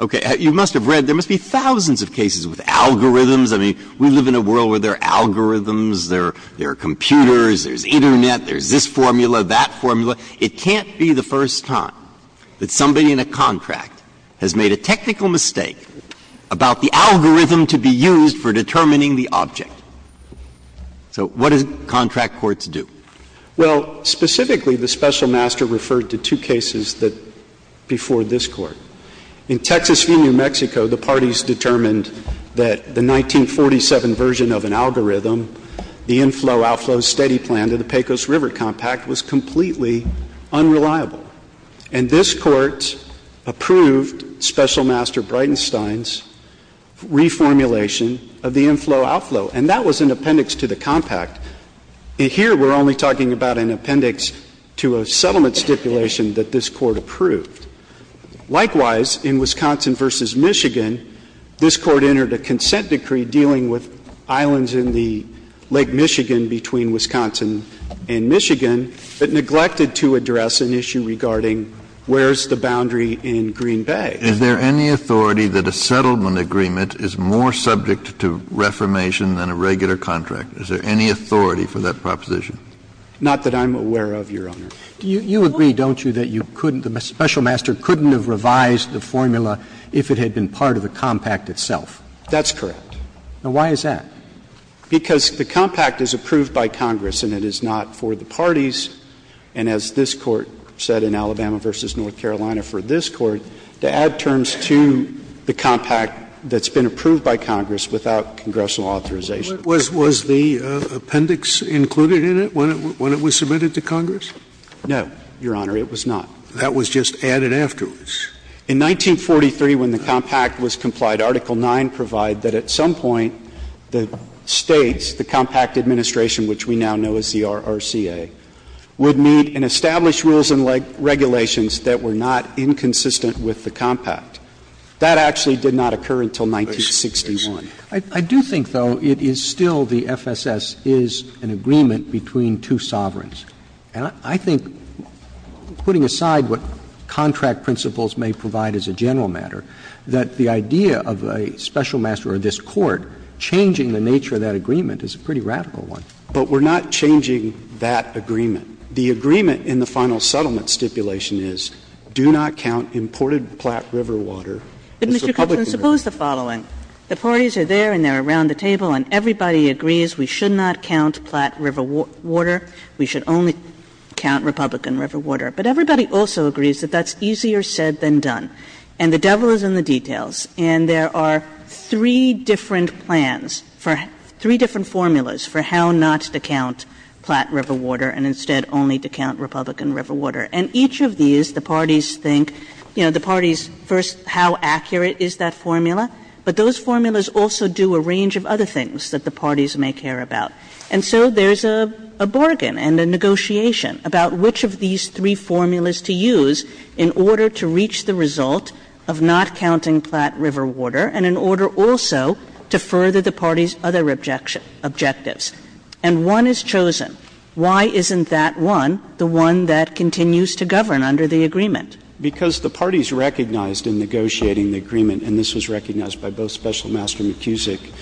Okay. You must have read, there must be thousands of cases with algorithms. I mean, we live in a world where there are algorithms, there are computers, there's Internet, there's this formula, that formula. It can't be the first time that somebody in a contract has made a technical mistake about the algorithm to be used for determining the object. So what does contract courts do? Well, specifically, the Special Master referred to two cases that, before this Court. In Texas v. New Mexico, the parties determined that the 1947 version of an algorithm, the inflow-outflow steady plan to the Pecos River Compact, was completely unreliable. And this Court approved Special Master Bridenstine's reformulation of the inflow- outflow, and that was an appendix to the compact. Here, we're only talking about an appendix to a settlement stipulation that this Court approved. Likewise, in Wisconsin v. Michigan, this Court entered a consent decree dealing with islands in the Lake Michigan between Wisconsin and Michigan, but neglected to address an issue regarding where's the boundary in Green Bay. Kennedy. Is there any authority that a settlement agreement is more subject to reformation than a regular contract? Is there any authority for that proposition? Not that I'm aware of, Your Honor. You agree, don't you, that you couldn't the Special Master couldn't have revised the formula if it had been part of the compact itself? That's correct. Now, why is that? Because the compact is approved by Congress and it is not for the parties, and as this Court said in Alabama v. North Carolina for this Court, to add terms to the compact that's been approved by Congress without congressional authorization. Was the appendix included in it when it was submitted to Congress? No, Your Honor. It was not. That was just added afterwards. In 1943, when the compact was complied, Article 9 provided that at some point the States, the compact administration, which we now know as the RRCA, would meet and establish rules and regulations that were not inconsistent with the compact. That actually did not occur until 1961. I do think, though, it is still the FSS is an agreement between two sovereigns. And I think, putting aside what contract principles may provide as a general matter, that the idea of a Special Master or this Court changing the nature of that agreement is a pretty radical one. But we're not changing that agreement. The agreement in the final settlement stipulation is, do not count imported Platte River water as a public river. And Mr. Cunzin, suppose the following. The parties are there and they're around the table, and everybody agrees we should not count Platte River water, we should only count Republican River water. But everybody also agrees that that's easier said than done. And the devil is in the details. And there are three different plans for three different formulas for how not to count Platte River water, and instead only to count Republican River water. And each of these, the parties think, you know, the parties first, how accurate is that formula? But those formulas also do a range of other things that the parties may care about. And so there's a bargain and a negotiation about which of these three formulas to use in order to reach the result of not counting Platte River water, and in order also to further the parties' other objectives. And one is chosen. Why isn't that one the one that continues to govern under the agreement? Because the parties recognized in negotiating the agreement, and this was recognized by both Special Master McCusick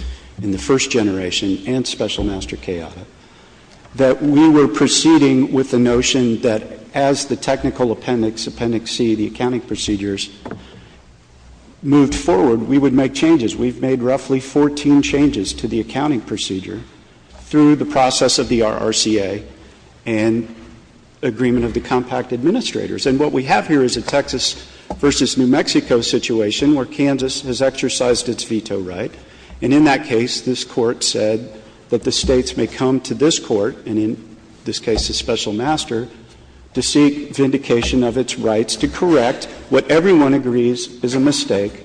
in the first generation and Special Master Chaota, that we were proceeding with the notion that as the technical appendix, Appendix C, the accounting procedures moved forward, we would make changes. We've made roughly 14 changes to the accounting procedure through the process of the RCA and agreement of the compact administrators. And what we have here is a Texas v. New Mexico situation where Kansas has exercised its veto right, and in that case, this Court said that the States may come to this Court and, in this case, the Special Master, to seek vindication of its rights to correct what everyone agrees is a mistake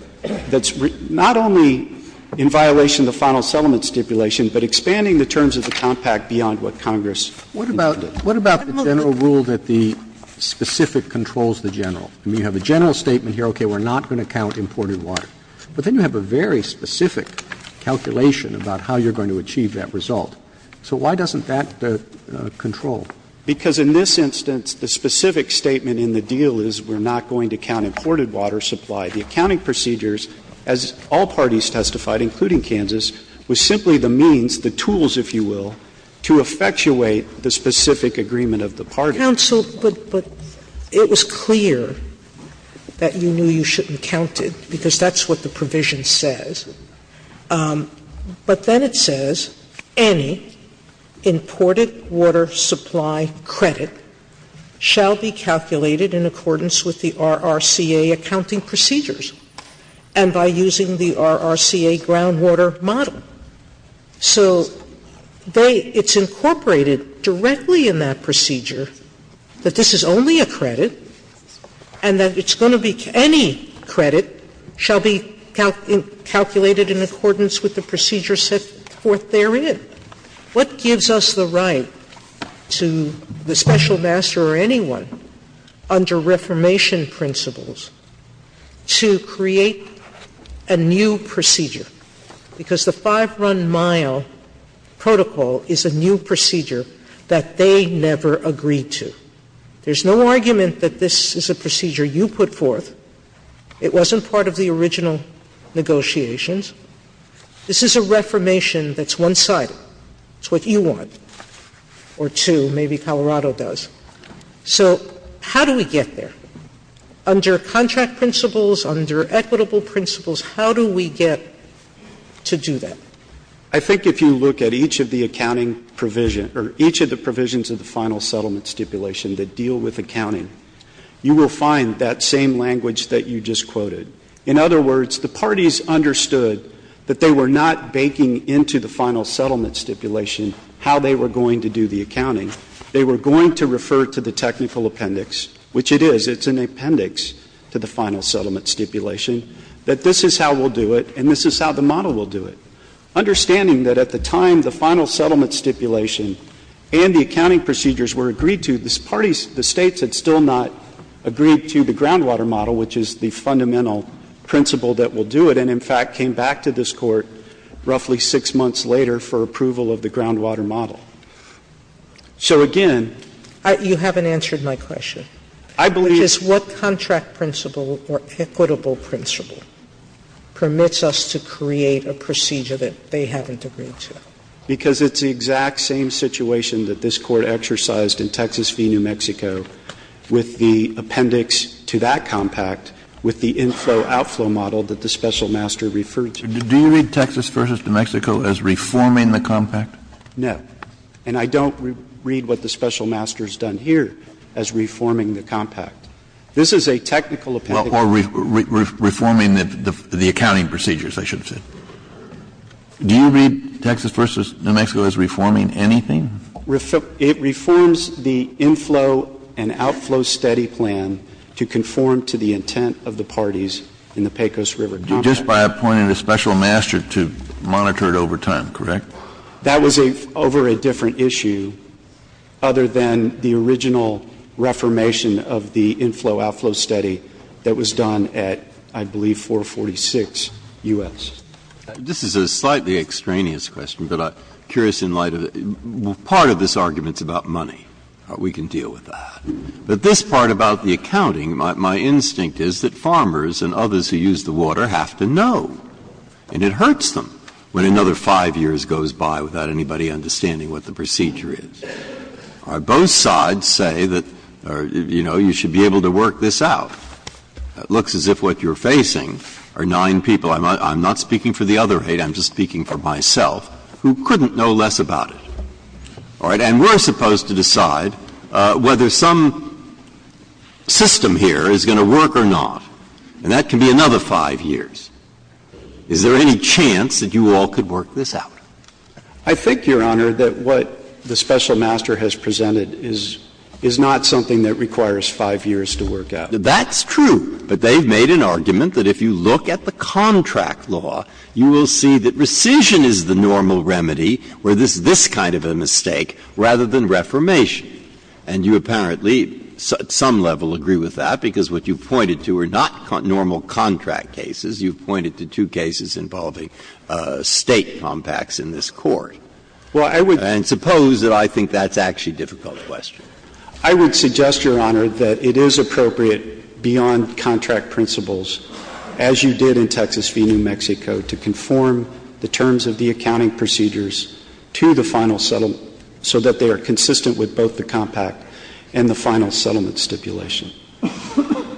that's not only in violation of the final settlement stipulation, but expanding the terms of the compact beyond what Congress intended. What about the general rule that the specific controls the general? I mean, you have a general statement here, okay, we're not going to count imported water. But then you have a very specific calculation about how you're going to achieve that result. So why doesn't that control? Because in this instance, the specific statement in the deal is we're not going to count imported water supply. The accounting procedures, as all parties testified, including Kansas, was simply the means, the tools, if you will, to effectuate the specific agreement of the parties. Counsel, but it was clear that you knew you shouldn't count it, because that's what the provision says. But then it says, any imported water supply credit shall be calculated in accordance with the RRCA accounting procedures and by using the RRCA groundwater model. So they — it's incorporated directly in that procedure that this is only a credit and that it's going to be — any credit shall be calculated in accordance with the procedure set forth therein. Sotomayor, what gives us the right to the special master or anyone under Reformation principles to create a new procedure? Because the five-run mile protocol is a new procedure that they never agreed to. There's no argument that this is a procedure you put forth. It wasn't part of the original negotiations. This is a Reformation that's one-sided. It's what you want, or two. Maybe Colorado does. So how do we get there? Under contract principles, under equitable principles, how do we get to do that? I think if you look at each of the accounting provision — or each of the provisions of the final settlement stipulation that deal with accounting, you will find that same language that you just quoted. In other words, the parties understood that they were not baking into the final settlement stipulation how they were going to do the accounting. They were going to refer to the technical appendix, which it is. It's an appendix to the final settlement stipulation, that this is how we'll do it and this is how the model will do it. Understanding that at the time the final settlement stipulation and the accounting procedures were agreed to, the parties — the States had still not agreed to the groundwater model, which is the fundamental principle that will do it, and in fact came back to this Court roughly six months later for approval of the groundwater model. So again — Sotomayor, you haven't answered my question. I believe — Which is what contract principle or equitable principle permits us to create a procedure that they haven't agreed to? Because it's the exact same situation that this Court exercised in Texas v. New Mexico with the appendix to that compact, with the inflow-outflow model that the special master referred to. Do you read Texas v. New Mexico as reforming the compact? No. And I don't read what the special master has done here as reforming the compact. This is a technical appendix. Well, or reforming the accounting procedures, I should say. Do you read Texas v. New Mexico as reforming anything? It reforms the inflow-and-outflow study plan to conform to the intent of the parties in the Pecos River Compact. Just by appointing a special master to monitor it over time, correct? That was over a different issue other than the original reformation of the inflow-outflow study that was done at, I believe, 446 U.S. This is a slightly extraneous question, but I'm curious in light of it. Part of this argument is about money. We can deal with that. But this part about the accounting, my instinct is that farmers and others who use the water have to know. And it hurts them when another 5 years goes by without anybody understanding what the procedure is. Our both sides say that, you know, you should be able to work this out. It looks as if what you're facing are 9 people. I'm not speaking for the other 8. I'm just speaking for myself, who couldn't know less about it. All right? And we're supposed to decide whether some system here is going to work or not. And that can be another 5 years. Is there any chance that you all could work this out? I think, Your Honor, that what the special master has presented is not something that requires 5 years to work out. That's true. But they've made an argument that if you look at the contract law, you will see that rescission is the normal remedy, where there's this kind of a mistake, rather than reformation. And you apparently, at some level, agree with that, because what you've pointed to are not normal contract cases. You've pointed to two cases involving State compacts in this Court. And suppose that I think that's actually a difficult question. I would suggest, Your Honor, that it is appropriate, beyond contract principles, as you did in Texas v. New Mexico, to conform the terms of the accounting procedures to the final settlement, so that they are consistent with both the compact and the final settlement stipulation.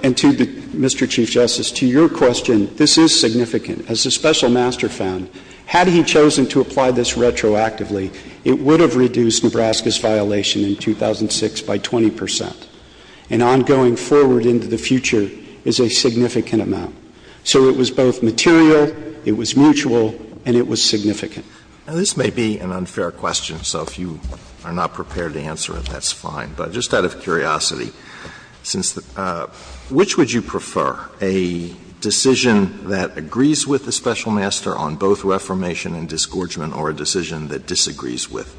And to Mr. Chief Justice, to your question, this is significant. As the special master found, had he chosen to apply this retroactively, it would have been a 26-by-20 percent. And on going forward into the future is a significant amount. So it was both material, it was mutual, and it was significant. Alitos, this may be an unfair question, so if you are not prepared to answer it, that's fine. But just out of curiosity, since the – which would you prefer, a decision that agrees with the special master on both reformation and disgorgement, or a decision that agrees with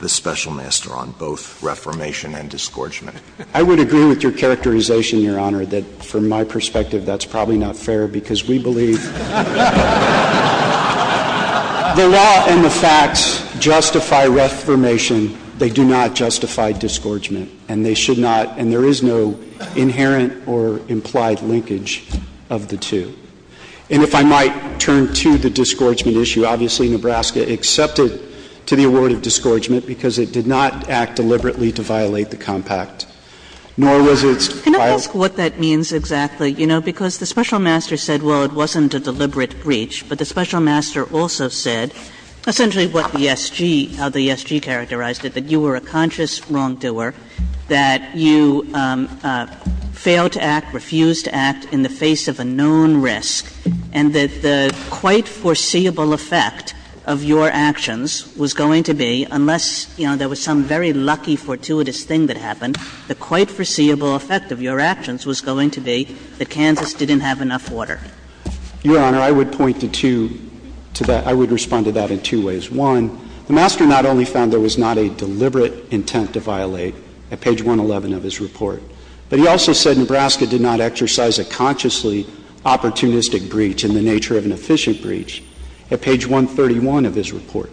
the special master on both reformation and disgorgement? I would agree with your characterization, Your Honor, that from my perspective, that's probably not fair, because we believe the law and the facts justify reformation, they do not justify disgorgement. And they should not – and there is no inherent or implied linkage of the two. And if I might turn to the disgorgement issue, obviously Nebraska accepted to the compact, nor was it – Kagan. Can I ask what that means exactly? You know, because the special master said, well, it wasn't a deliberate breach. But the special master also said essentially what the SG – how the SG characterized it, that you were a conscious wrongdoer, that you failed to act, refused to act in the face of a known risk, and that the quite foreseeable effect of your actions was going to be, unless, you know, there was some very lucky, fortuitous thing that happened, the quite foreseeable effect of your actions was going to be that Kansas didn't have enough water. Your Honor, I would point to two – to that – I would respond to that in two ways. One, the master not only found there was not a deliberate intent to violate at page 111 of his report, but he also said Nebraska did not exercise a consciously opportunistic breach in the nature of an efficient breach at page 131 of his report.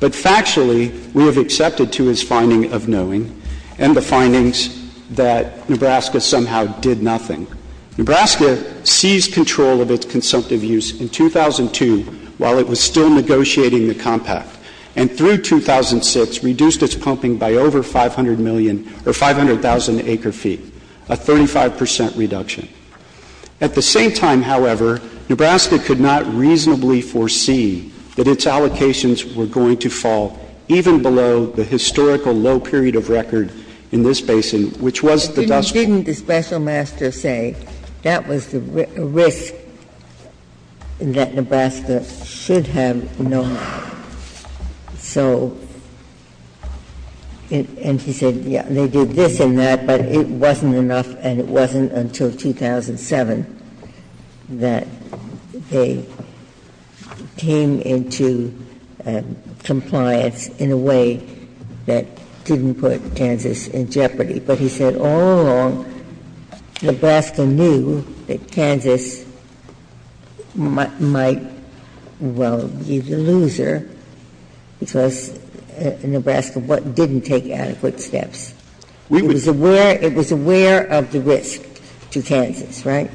But factually, we have accepted to his finding of knowing, and the findings, that Nebraska somehow did nothing. Nebraska seized control of its consumptive use in 2002 while it was still negotiating the compact, and through 2006 reduced its pumping by over 500 million – or 500,000 acre feet, a 35 percent reduction. At the same time, however, Nebraska could not reasonably foresee that its allocations were going to fall even below the historical low period of record in this basin, which was the dust – Didn't the special master say that was the risk that Nebraska should have known? So – and he said, yeah, they did this and that, but it wasn't enough, and it wasn't enough until 2007 that they came into compliance in a way that didn't put Kansas in jeopardy, but he said all along Nebraska knew that Kansas might, well, be the loser because Nebraska didn't take adequate steps. It was aware – it was aware of the risk. And it was aware of the risk to Kansas, right?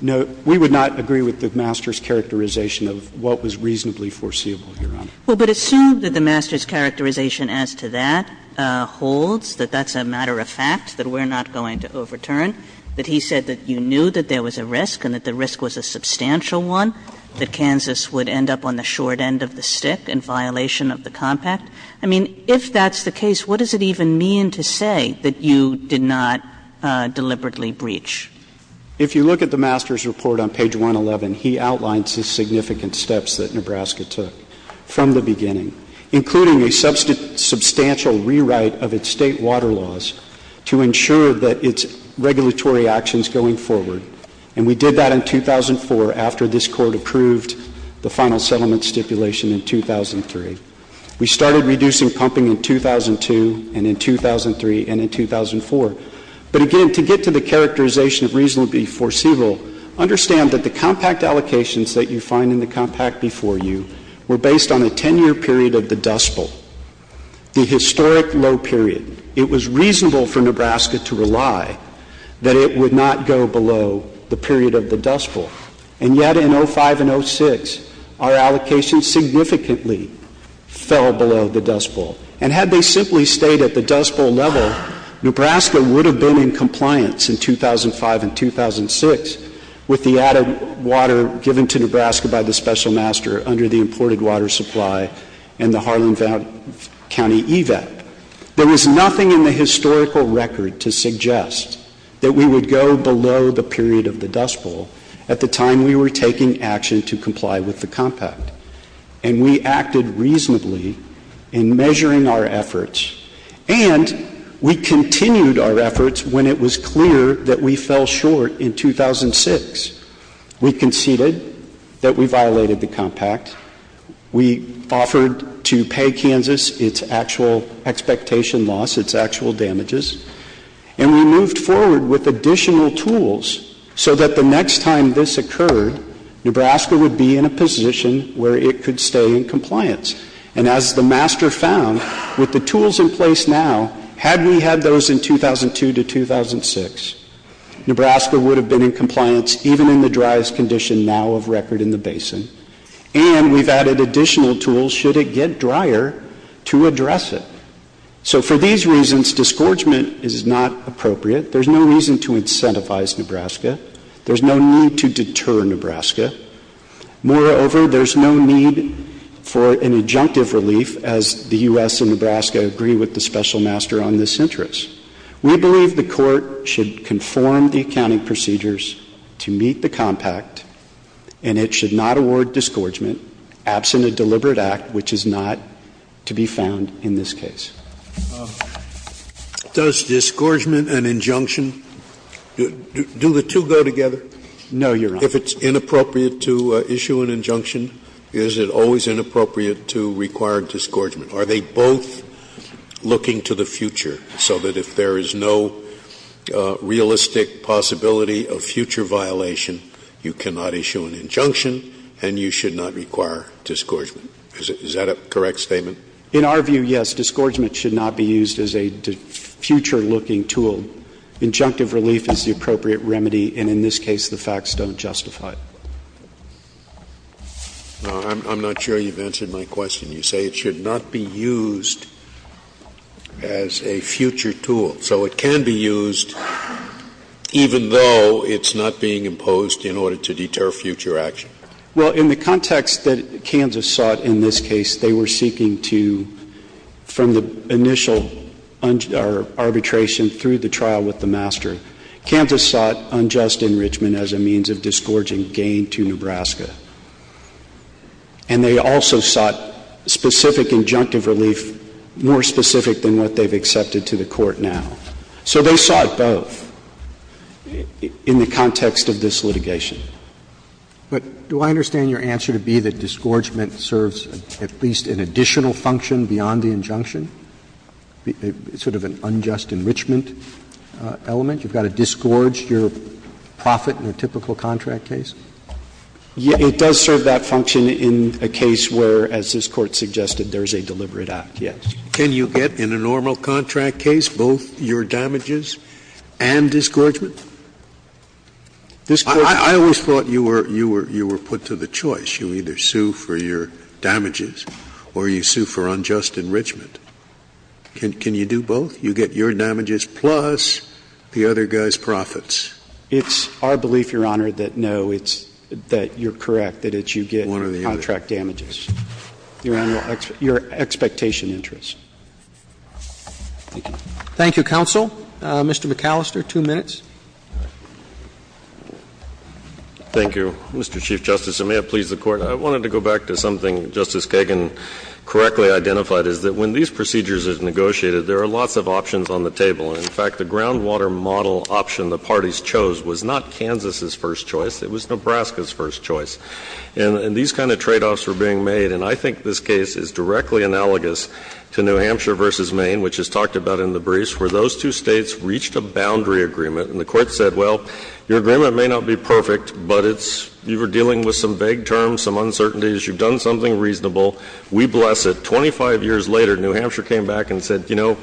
No, we would not agree with the master's characterization of what was reasonably foreseeable, Your Honor. Well, but assume that the master's characterization as to that holds, that that's a matter of fact, that we're not going to overturn, that he said that you knew that there was a risk and that the risk was a substantial one, that Kansas would end up on the short end of the stick in violation of the compact. I mean, if that's the case, what does it even mean to say that you did not deliberately breach? If you look at the master's report on page 111, he outlines the significant steps that Nebraska took from the beginning, including a substantial rewrite of its state water laws to ensure that its regulatory actions going forward. And we did that in 2004 after this Court approved the final settlement stipulation in 2003. We started reducing pumping in 2002 and in 2003 and in 2004. But again, to get to the characterization of reasonably foreseeable, understand that the compact allocations that you find in the compact before you were based on a 10-year period of the Dust Bowl, the historic low period. It was reasonable for Nebraska to rely that it would not go below the period of the Dust Bowl. And yet in 2005 and 2006, our allocations significantly fell below the Dust Bowl. And had they simply stayed at the Dust Bowl level, Nebraska would have been in compliance in 2005 and 2006 with the added water given to Nebraska by the special master under the imported water supply and the Harlan County EVAP. There was nothing in the historical record to suggest that we would go below the period of the Dust Bowl at the time we were taking action to comply with the compact. And we acted reasonably in measuring our efforts and we continued our efforts when it was clear that we fell short in 2006. We conceded that we violated the compact. We offered to pay Kansas its actual expectation loss, its actual damages. And we moved forward with additional tools so that the next time this occurred, Nebraska would be in a position where it could stay in compliance. And as the master found, with the tools in place now, had we had those in 2002 to 2006, Nebraska would have been in compliance even in the driest condition now of record in the basin. And we've added additional tools should it get drier to address it. So for these reasons, disgorgement is not appropriate. There's no reason to incentivize Nebraska. There's no need to deter Nebraska. Moreover, there's no need for an injunctive relief as the U.S. and Nebraska agree with the special master on this interest. We believe the court should conform the accounting procedures to meet the compact and it should not award disgorgement absent a deliberate act which is not to be found in this case. Scalia Does disgorgement and injunction, do the two go together? No, Your Honor. Scalia If it's inappropriate to issue an injunction, is it always inappropriate to require disgorgement? Are they both looking to the future so that if there is no realistic possibility of future violation, you cannot issue an injunction and you should not require disgorgement? Is that a correct statement? In our view, yes. Disgorgement should not be used as a future-looking tool. Injunctive relief is the appropriate remedy, and in this case, the facts don't justify it. Now, I'm not sure you've answered my question. You say it should not be used as a future tool. So it can be used even though it's not being imposed in order to deter future action? Well, in the context that Kansas sought in this case, they were seeking to, from the initial arbitration through the trial with the master, Kansas sought unjust enrichment as a means of disgorging gain to Nebraska. And they also sought specific injunctive relief, more specific than what they've accepted to the Court now. So they sought both in the context of this litigation. But do I understand your answer to be that disgorgement serves at least an additional function beyond the injunction, sort of an unjust enrichment element? You've got to disgorge your profit in a typical contract case? It does serve that function in a case where, as this Court suggested, there is a deliberate act, yes. Can you get in a normal contract case both your damages and disgorgement? I always thought you were put to the choice. You either sue for your damages or you sue for unjust enrichment. Can you do both? You get your damages plus the other guy's profits. It's our belief, Your Honor, that no, it's that you're correct, that it's you get contract damages. Your Honor, your expectation interests. Thank you. Thank you, counsel. Mr. McAllister, two minutes. Thank you, Mr. Chief Justice, and may it please the Court. I wanted to go back to something Justice Kagan correctly identified, is that when these procedures are negotiated, there are lots of options on the table. And in fact, the groundwater model option the parties chose was not Kansas's first choice. It was Nebraska's first choice. And these kind of tradeoffs were being made, and I think this case is directly analogous to New Hampshire v. Maine, which is talked about in the briefs, where those two States reached a boundary agreement. And the Court said, well, your agreement may not be perfect, but it's you were dealing with some vague terms, some uncertainties, you've done something reasonable, we bless it. Twenty-five years later, New Hampshire came back and said, you know,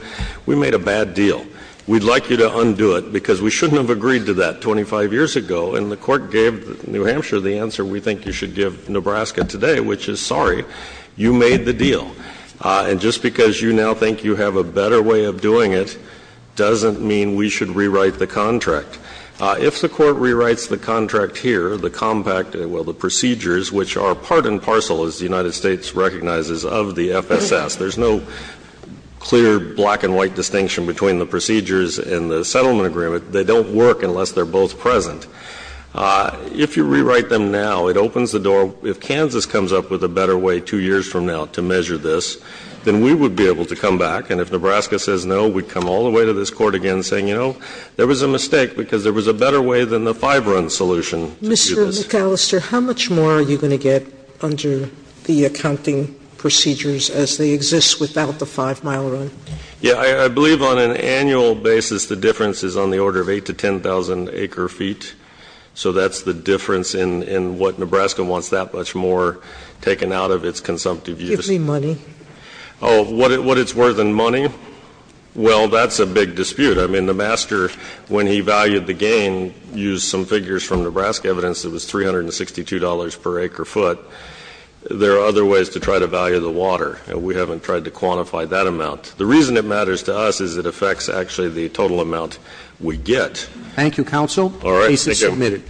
we made a bad deal. We'd like you to undo it, because we shouldn't have agreed to that 25 years ago. And the Court gave New Hampshire the answer we think you should give Nebraska today, which is, sorry, you made the deal. And just because you now think you have a better way of doing it doesn't mean we should rewrite the contract. If the Court rewrites the contract here, the compact, well, the procedures, which are part and parcel, as the United States recognizes, of the FSS, there's no clear black and white distinction between the procedures and the settlement agreement. They don't work unless they're both present. If you rewrite them now, it opens the door. If Kansas comes up with a better way two years from now to measure this, then we would be able to come back. And if Nebraska says no, we'd come all the way to this Court again saying, you know, there was a mistake, because there was a better way than the five-run solution to do this. Sotomayor Mr. McAllister, how much more are you going to get under the accounting procedures as they exist without the five-mile run? McAllister Yeah, I believe on an annual basis the difference is on the order of 8 to 10,000 acre-feet, so that's the difference in what Nebraska wants that much more taken out of its consumptive use. Sotomayor Give me money. McAllister Oh, what it's worth in money? Well, that's a big dispute. I mean, the master, when he valued the gain, used some figures from Nebraska evidence that it was $362 per acre-foot. There are other ways to try to value the water, and we haven't tried to quantify that amount. The reason it matters to us is it affects, actually, the total amount we get. Roberts Thank you, counsel. The case is submitted.